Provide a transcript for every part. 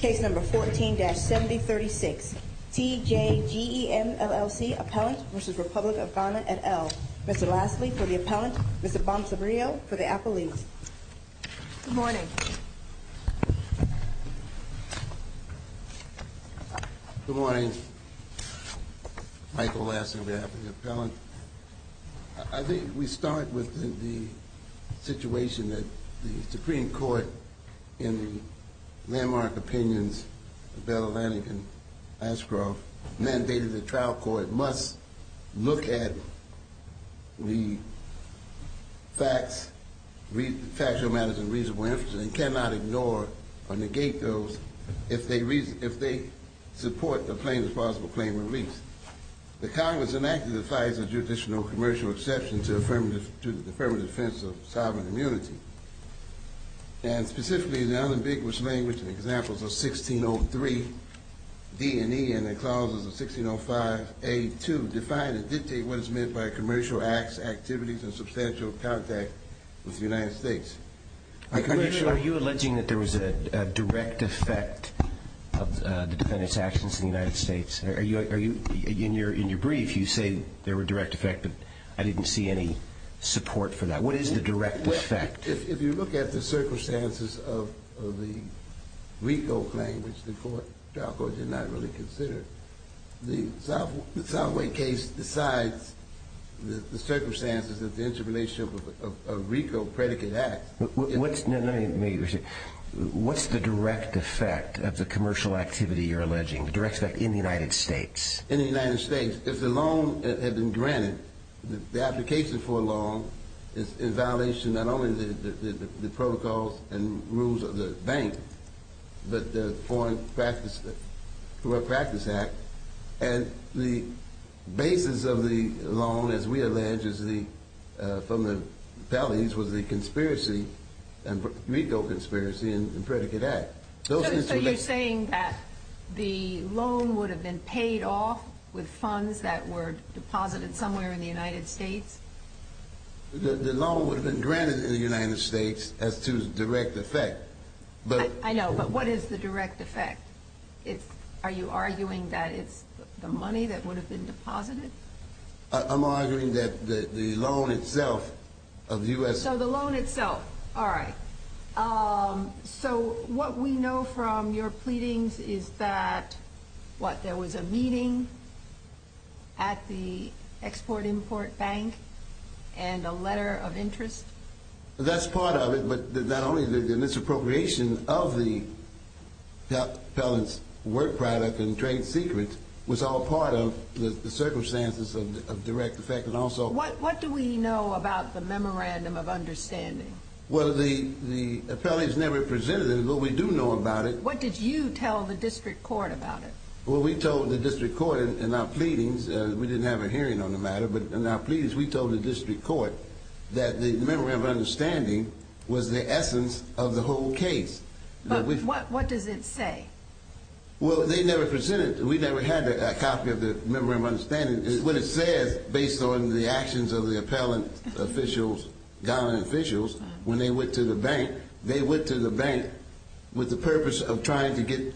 Case number 14-7036 TJGEM LLC Appellant v. Republic of Ghana et al. Mr. Lassley for the Appellant, Mr. Bonsabrio for the Appellant. Good morning. Good morning. Michael Lassley with the Appellant. I think we start with the situation that the Supreme Court in the landmark opinions of Bela Lannigan and Ashcroft mandated the trial court must look at the facts, factual matters of reasonable interest and cannot ignore or negate those if they support the plaintiff's possible claim of release. The Congress enacted the defiance of judicial and commercial exception to the affirmative defense of sovereign immunity. And specifically, the unambiguous language and examples of 1603 D&E and the clauses of 1605A2 define and dictate what is meant by commercial acts, activities, and substantial contact with the United States. Are you alleging that there was a direct effect of the defendant's actions in the United States? In your brief, you say there were direct effect, but I didn't see any support for that. What is the direct effect? If you look at the circumstances of the RICO claim, which the trial court did not really consider, the Southway case decides the circumstances of the interrelationship of RICO predicate acts. What's the direct effect of the commercial activity you're alleging, the direct effect in the United States? In the United States, if the loan had been granted, the application for a loan is in violation not only of the protocols and rules of the bank, but the Foreign Practice Act. And the basis of the loan, as we allege, from the Pelley's was the conspiracy, RICO conspiracy and predicate act. So you're saying that the loan would have been paid off with funds that were deposited somewhere in the United States? The loan would have been granted in the United States as to direct effect. I know, but what is the direct effect? Are you arguing that it's the money that would have been deposited? I'm arguing that the loan itself of the U.S. So the loan itself, all right. So what we know from your pleadings is that, what, there was a meeting at the Export-Import Bank and a letter of interest? That's part of it, but not only that, the misappropriation of the Pelley's work product and trade secrets was all part of the circumstances of direct effect. What do we know about the Memorandum of Understanding? Well, the Pelley's never presented it, but we do know about it. What did you tell the district court about it? Well, we told the district court in our pleadings, we didn't have a hearing on the matter, but in our pleadings we told the district court that the Memorandum of Understanding was the essence of the whole case. But what does it say? Well, they never presented it. We never had a copy of the Memorandum of Understanding. What it says, based on the actions of the appellant officials, gun officials, when they went to the bank, they went to the bank with the purpose of trying to get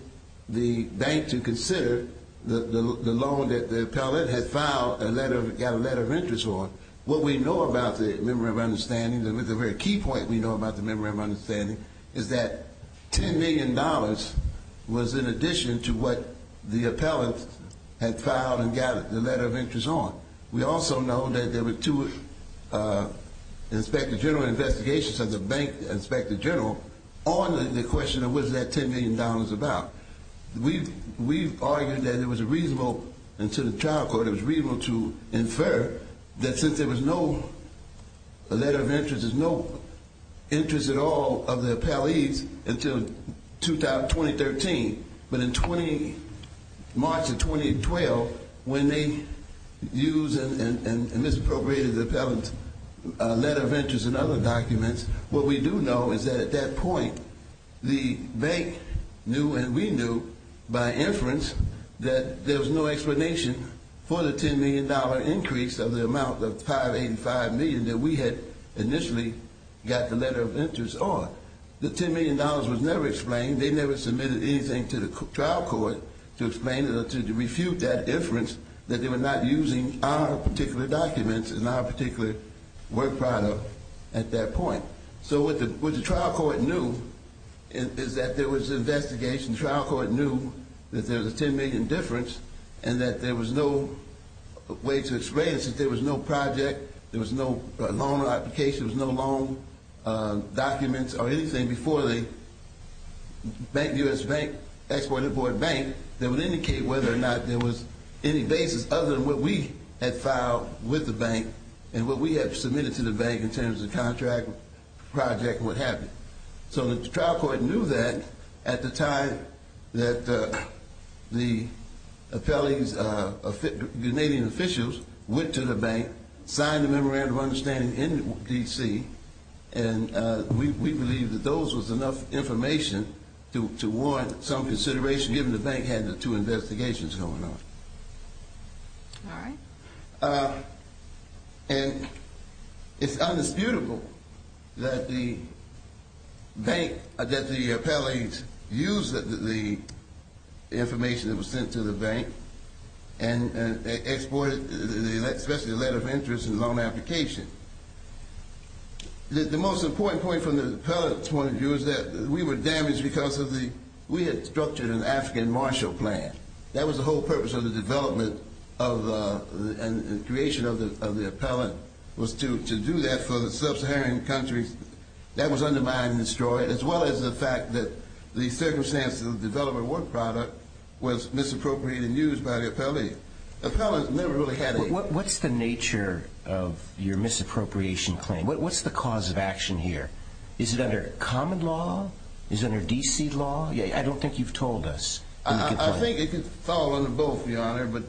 the bank to consider the loan that the appellant had filed a letter, got a letter of interest on. What we know about the Memorandum of Understanding, the very key point we know about the Memorandum of Understanding, is that $10 million was in addition to what the appellant had filed and got the letter of interest on. We also know that there were two inspector general investigations at the bank, inspector general, on the question of what is that $10 million about. We've argued that it was reasonable, and to the trial court, it was reasonable to infer that since there was no letter of interest, there's no interest at all of the appellees until 2013. But in March of 2012, when they used and misappropriated the appellant's letter of interest and other documents, what we do know is that at that point, the bank knew and we knew by inference that there was no explanation for the $10 million increase of the amount of $585 million that we had initially got the letter of interest on. The $10 million was never explained. They never submitted anything to the trial court to explain it or to refute that inference that they were not using our particular documents and our particular work product at that point. So what the trial court knew is that there was an investigation. The trial court knew that there was a $10 million difference and that there was no way to explain it, since there was no project, there was no loan application, there was no loan documents or anything before the bank, U.S. Bank, Export-Import Bank, that would indicate whether or not there was any basis other than what we had filed with the bank and what we had submitted to the bank in terms of contract. So the trial court knew that at the time that the appellant's Canadian officials went to the bank, signed a memorandum of understanding in D.C., and we believe that those was enough information to warrant some consideration, given the bank had the two investigations going on. All right. And it's undisputable that the bank, that the appellate used the information that was sent to the bank and exported, especially the letter of interest and loan application. The most important point from the appellate's point of view is that we were damaged because we had structured an African Marshall Plan. That was the whole purpose of the development and creation of the appellant, was to do that for the Sub-Saharan countries. That was undermined and destroyed, as well as the fact that the circumstances of the development of the work product was misappropriated and used by the appellate. What's the nature of your misappropriation claim? What's the cause of action here? Is it under common law? Is it under D.C. law? I don't think you've told us. I think it could fall under both, Your Honor. But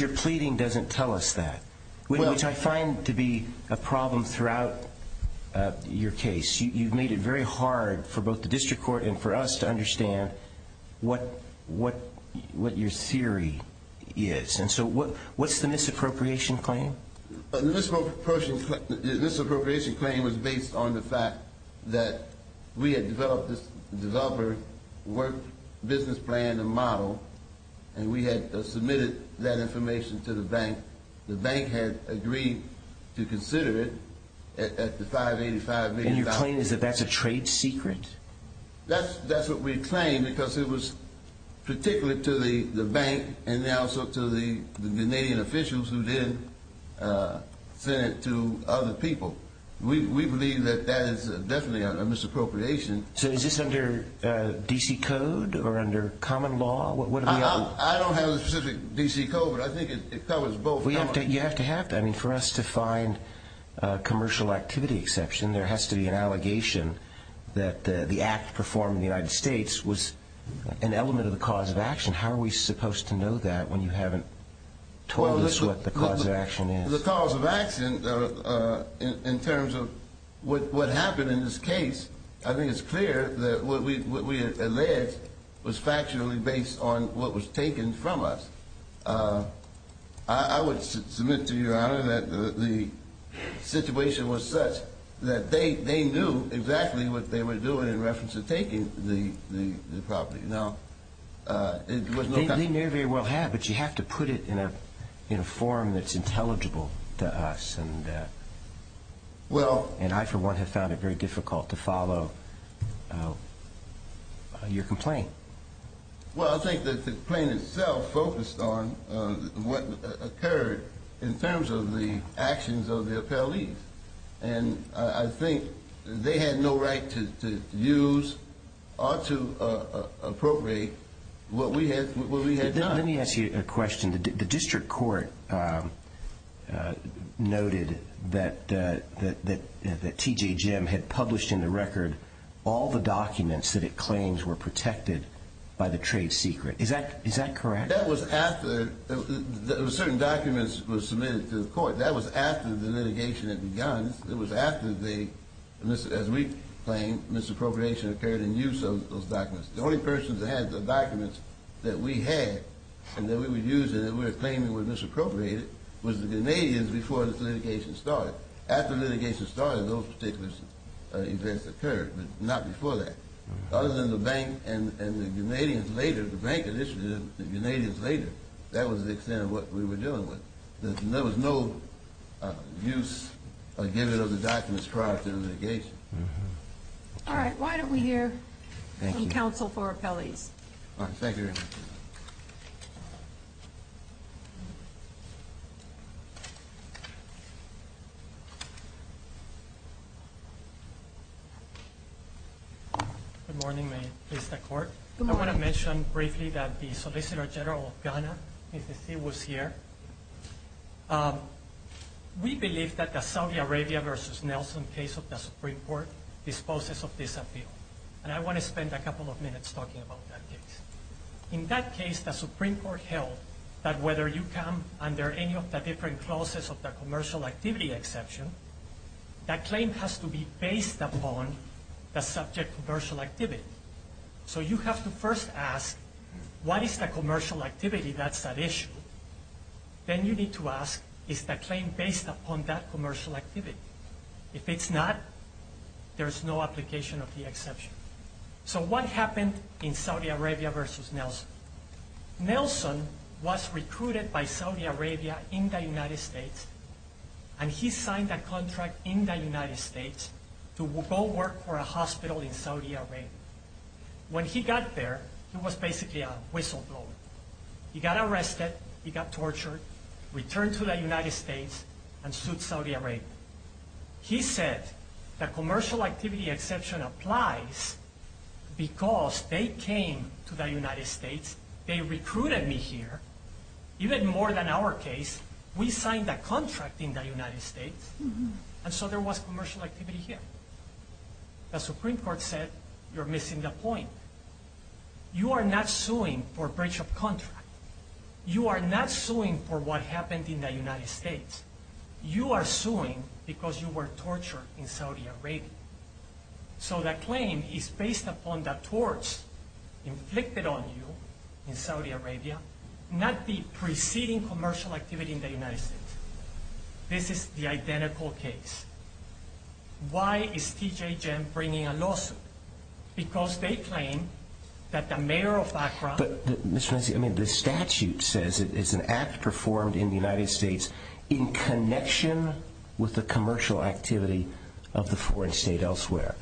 your pleading doesn't tell us that, which I find to be a problem throughout your case. You've made it very hard for both the district court and for us to understand what your theory is. And so what's the misappropriation claim? The misappropriation claim was based on the fact that we had developed this developer work business plan and model, and we had submitted that information to the bank. The bank had agreed to consider it at the $585 million. And your claim is that that's a trade secret? That's what we claim, because it was particularly to the bank and also to the Canadian officials who then sent it to other people. We believe that that is definitely a misappropriation. So is this under D.C. code or under common law? I don't have a specific D.C. code, but I think it covers both. You have to have that. I mean, for us to find a commercial activity exception, there has to be an allegation that the act performed in the United States was an element of the cause of action. How are we supposed to know that when you haven't told us what the cause of action is? The cause of action, in terms of what happened in this case, I think it's clear that what we alleged was factually based on what was taken from us. I would submit to Your Honor that the situation was such that they knew exactly what they were doing in reference to taking the property. They may very well have, but you have to put it in a form that's intelligible to us. And I, for one, have found it very difficult to follow your complaint. Well, I think that the complaint itself focused on what occurred in terms of the actions of the appellees. And I think they had no right to use or to appropriate what we had done. Let me ask you a question. The district court noted that T.J. Jim had published in the record all the documents that it claims were protected by the trade secret. Is that correct? That was after certain documents were submitted to the court. That was after the litigation had begun. It was after, as we claim, misappropriation occurred in use of those documents. The only persons that had the documents that we had and that we were using that we were claiming were misappropriated was the Canadians before this litigation started. Well, after litigation started, those particular events occurred, but not before that. Other than the bank and the Canadians later, the bank initiated it, the Canadians later. That was the extent of what we were dealing with. There was no use or giving of the documents prior to the litigation. All right. Why don't we hear from counsel for appellees? All right. Thank you very much. Good morning. May it please the Court? Good morning. I want to mention briefly that the Solicitor General of Ghana, Mr. Thiel, was here. We believe that the Saudi Arabia versus Nelson case of the Supreme Court disposes of this appeal. And I want to spend a couple of minutes talking about that case. In that case, the Supreme Court held that whether you come under any of the different clauses of the commercial activity exception, that claim has to be based upon the subject commercial activity. So you have to first ask, what is the commercial activity that's at issue? Then you need to ask, is the claim based upon that commercial activity? If it's not, there's no application of the exception. So what happened in Saudi Arabia versus Nelson? Nelson was recruited by Saudi Arabia in the United States, and he signed a contract in the United States to go work for a hospital in Saudi Arabia. When he got there, he was basically a whistleblower. He got arrested, he got tortured, returned to the United States, and sued Saudi Arabia. He said, the commercial activity exception applies because they came to the United States, they recruited me here. Even more than our case, we signed a contract in the United States, and so there was commercial activity here. The Supreme Court said, you're missing the point. You are not suing for breach of contract. You are not suing for what happened in the United States. You are suing because you were tortured in Saudi Arabia. So that claim is based upon the torch inflicted on you in Saudi Arabia, not the preceding commercial activity in the United States. This is the identical case. Why is T.J. Jem bringing a lawsuit? Because they claim that the mayor of Accra— In connection with the commercial activity of the foreign state elsewhere.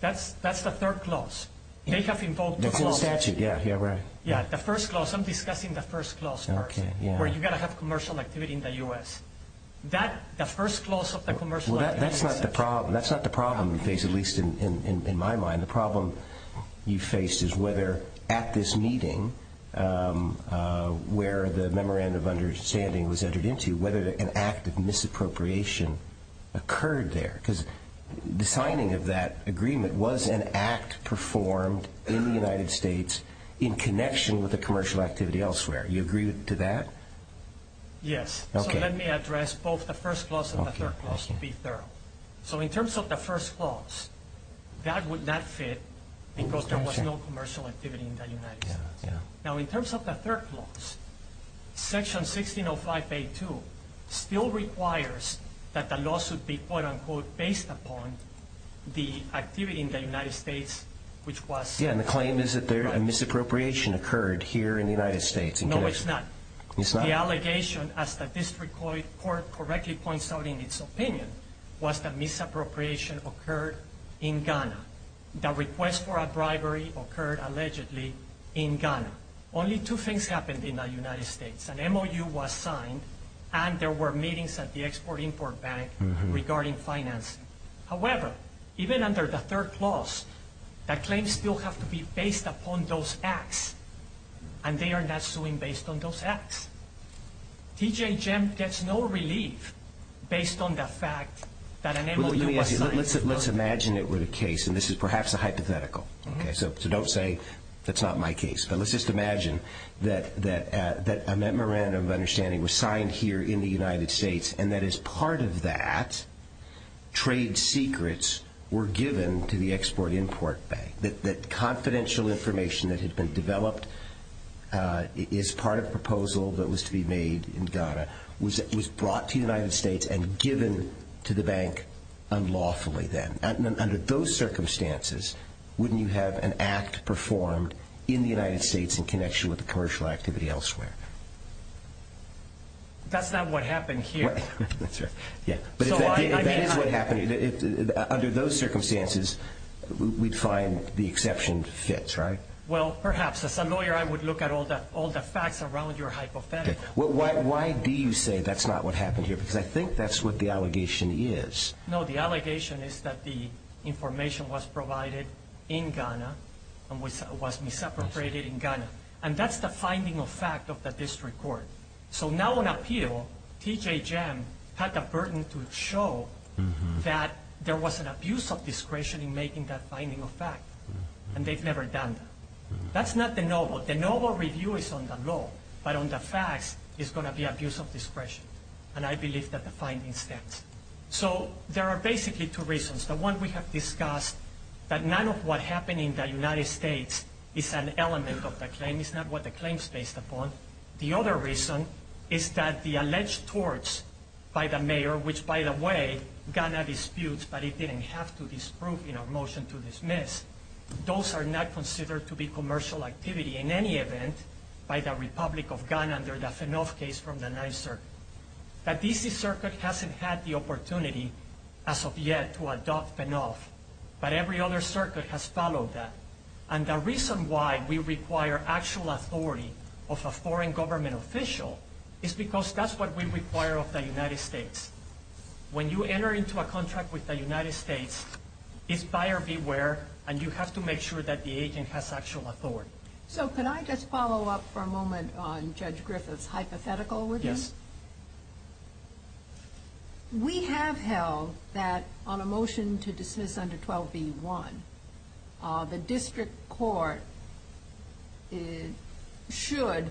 That's the third clause. They have invoked the clause. That's in the statute, yeah, right. Yeah, the first clause. I'm discussing the first clause first. Okay, yeah. Where you've got to have commercial activity in the U.S. The first clause of the commercial— Well, that's not the problem you face, at least in my mind. The problem you faced is whether at this meeting, where the memorandum of understanding was entered into, whether an act of misappropriation occurred there. Because the signing of that agreement was an act performed in the United States in connection with the commercial activity elsewhere. Do you agree to that? Yes. So let me address both the first clause and the third clause to be thorough. So in terms of the first clause, that would not fit because there was no commercial activity in the United States. Now, in terms of the third clause, Section 1605A2 still requires that the law should be, quote-unquote, based upon the activity in the United States, which was— Yeah, and the claim is that a misappropriation occurred here in the United States. No, it's not. It's not? The allegation, as the district court correctly points out in its opinion, was that misappropriation occurred in Ghana. The request for a bribery occurred, allegedly, in Ghana. Only two things happened in the United States. An MOU was signed, and there were meetings at the Export-Import Bank regarding financing. However, even under the third clause, the claims still have to be based upon those acts, and they are not suing based on those acts. T.J. Jem gets no relief based on the fact that an MOU was signed. Let's imagine it were the case, and this is perhaps a hypothetical, so don't say that's not my case, but let's just imagine that a memorandum of understanding was signed here in the United States and that as part of that, trade secrets were given to the Export-Import Bank, that confidential information that had been developed as part of a proposal that was to be made in Ghana was brought to the United States and given to the bank unlawfully then. Under those circumstances, wouldn't you have an act performed in the United States in connection with the commercial activity elsewhere? That's not what happened here. That's right. But if that is what happened, under those circumstances, we'd find the exception fits, right? Well, perhaps. As a lawyer, I would look at all the facts around your hypothetical. Okay. Why do you say that's not what happened here? Because I think that's what the allegation is. No, the allegation is that the information was provided in Ghana and was misappropriated in Ghana, and that's the finding of fact of the district court. So now on appeal, T.J. Jem had the burden to show that there was an abuse of discretion in making that finding of fact, and they've never done that. That's not the noble. The noble review is on the law, but on the facts, it's going to be abuse of discretion, and I believe that the finding stands. So there are basically two reasons. The one we have discussed, that none of what happened in the United States is an element of the claim. It's not what the claim is based upon. The other reason is that the alleged torts by the mayor, which, by the way, Ghana disputes, but it didn't have to disprove in a motion to dismiss, those are not considered to be commercial activity in any event by the Republic of Ghana under the Fanoff case from the 9th Circuit. The D.C. Circuit hasn't had the opportunity as of yet to adopt Fanoff, but every other circuit has followed that. And the reason why we require actual authority of a foreign government official is because that's what we require of the United States. When you enter into a contract with the United States, it's buyer beware, and you have to make sure that the agent has actual authority. So can I just follow up for a moment on Judge Griffith's hypothetical, would you? Yes. We have held that on a motion to dismiss under 12b-1, the district court should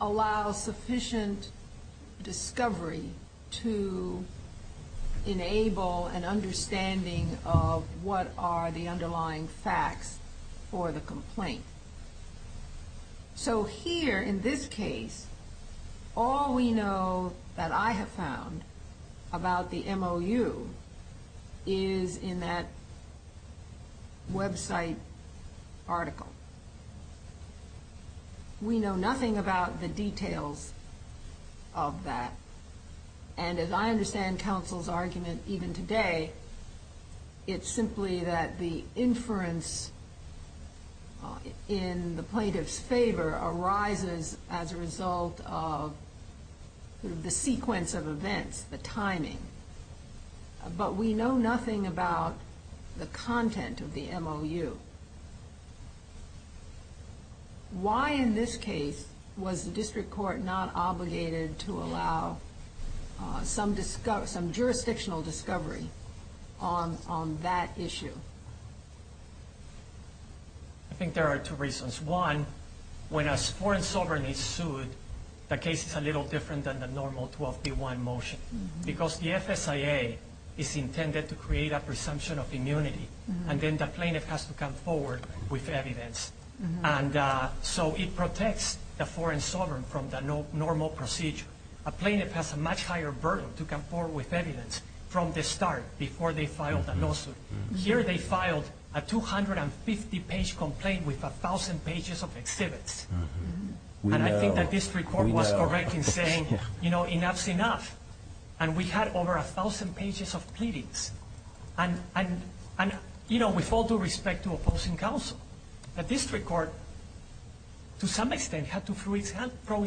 allow sufficient discovery to enable an understanding of what are the underlying facts for the complaint. So here in this case, all we know that I have found about the MOU is in that website article. We know nothing about the details of that, and as I understand counsel's argument even today, it's simply that the inference in the plaintiff's favor as a result of the sequence of events, the timing. But we know nothing about the content of the MOU. Why in this case was the district court not obligated to allow some jurisdictional discovery on that issue? I think there are two reasons. One, when a foreign sovereign is sued, the case is a little different than the normal 12b-1 motion, because the FSIA is intended to create a presumption of immunity, and then the plaintiff has to come forward with evidence. And so it protects the foreign sovereign from the normal procedure. A plaintiff has a much higher burden to come forward with evidence from the start before they file the lawsuit. Here they filed a 250-page complaint with 1,000 pages of exhibits. And I think the district court was correct in saying, you know, enough's enough. And we had over 1,000 pages of pleadings. And, you know, with all due respect to opposing counsel, the district court, to some extent, had to throw its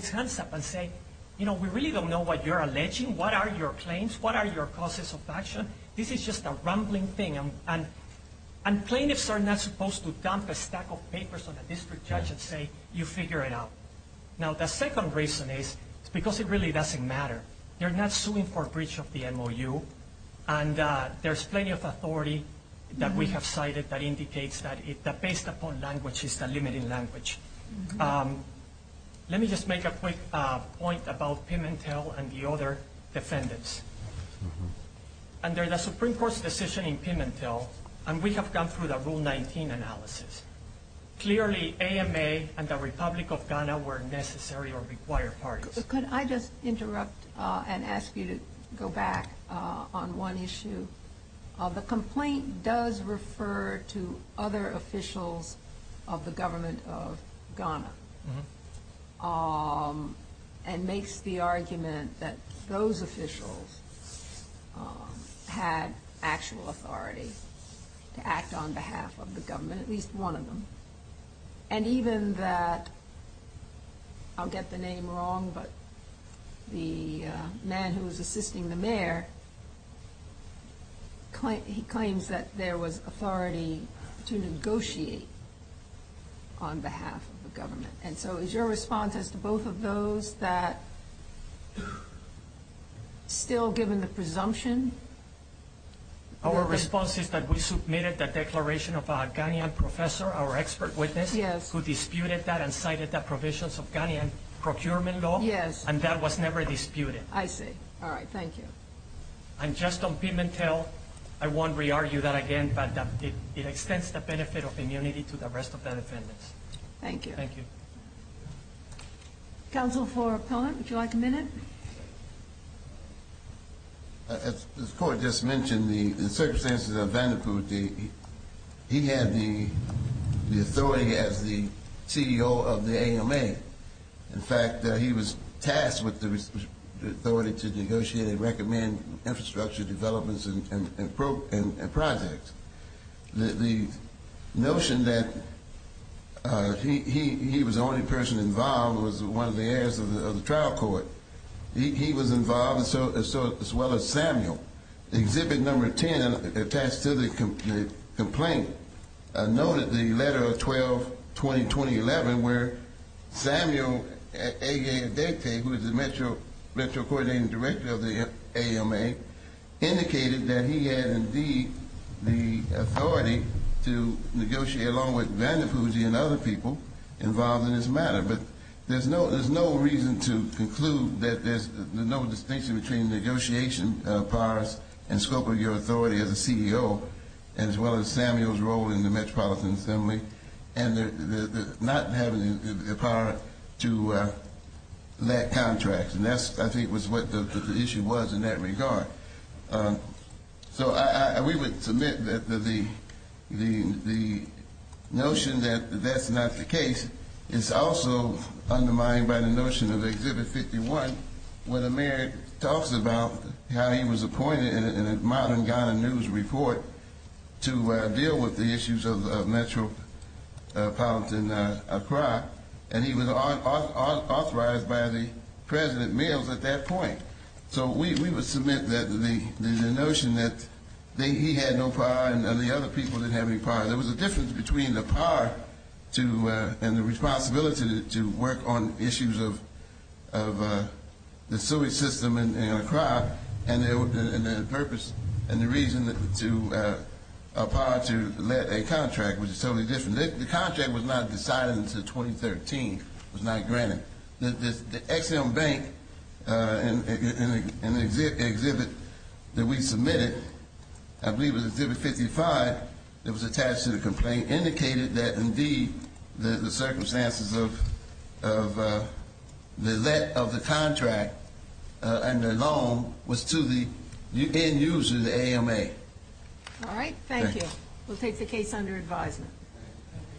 hands up and say, you know, we really don't know what you're alleging. What are your claims? What are your causes of action? This is just a rambling thing. And plaintiffs are not supposed to dump a stack of papers on a district judge and say, you figure it out. Now, the second reason is because it really doesn't matter. They're not suing for breach of the MOU, and there's plenty of authority that we have cited that indicates that based upon language is the limiting language. Let me just make a quick point about Pimentel and the other defendants. Under the Supreme Court's decision in Pimentel, and we have gone through the Rule 19 analysis, clearly AMA and the Republic of Ghana were necessary or required parties. Could I just interrupt and ask you to go back on one issue? The complaint does refer to other officials of the government of Ghana and makes the argument that those officials had actual authority to act on behalf of the government, at least one of them. And even that, I'll get the name wrong, but the man who was assisting the mayor, he claims that there was authority to negotiate on behalf of the government. And so is your response as to both of those that still given the presumption? Our response is that we submitted the declaration of a Ghanaian professor, our expert witness, who disputed that and cited the provisions of Ghanaian procurement law, and that was never disputed. I see. All right. Thank you. And just on Pimentel, I won't re-argue that again, but it extends the benefit of immunity to the rest of the defendants. Thank you. Thank you. Counsel for Appellant, would you like a minute? As the Court just mentioned, the circumstances of Vandepute, he had the authority as the CEO of the AMA. In fact, he was tasked with the authority to negotiate and recommend infrastructure developments and projects. The notion that he was the only person involved was one of the heirs of the trial court. He was involved as well as Samuel. Exhibit number 10 attached to the complaint noted the letter of 12-20-2011 where Samuel Adekte, who is the Metro Coordinating Director of the AMA, indicated that he had indeed the authority to negotiate, along with Vandepute and other people involved in this matter. But there's no reason to conclude that there's no distinction between negotiation powers and scope of your authority as a CEO, as well as Samuel's role in the Metropolitan Assembly, and not having the power to let contracts. And that, I think, was what the issue was in that regard. So we would submit that the notion that that's not the case is also undermined by the notion of Exhibit 51, where the mayor talks about how he was appointed in a modern Ghana news report to deal with the issues of Metropolitan Accra, and he was authorized by the President Mills at that point. So we would submit that the notion that he had no power and the other people didn't have any power. There was a difference between the power and the responsibility to work on issues of the sewage system in Accra and the purpose and the reason to a power to let a contract, which is totally different. The contract was not decided until 2013. It was not granted. The Ex-Im Bank in the exhibit that we submitted, I believe it was Exhibit 55, that was attached to the complaint, indicated that, indeed, the circumstances of the let of the contract and the loan was to the end user, the AMA. All right. Thank you. We'll take the case under advisement.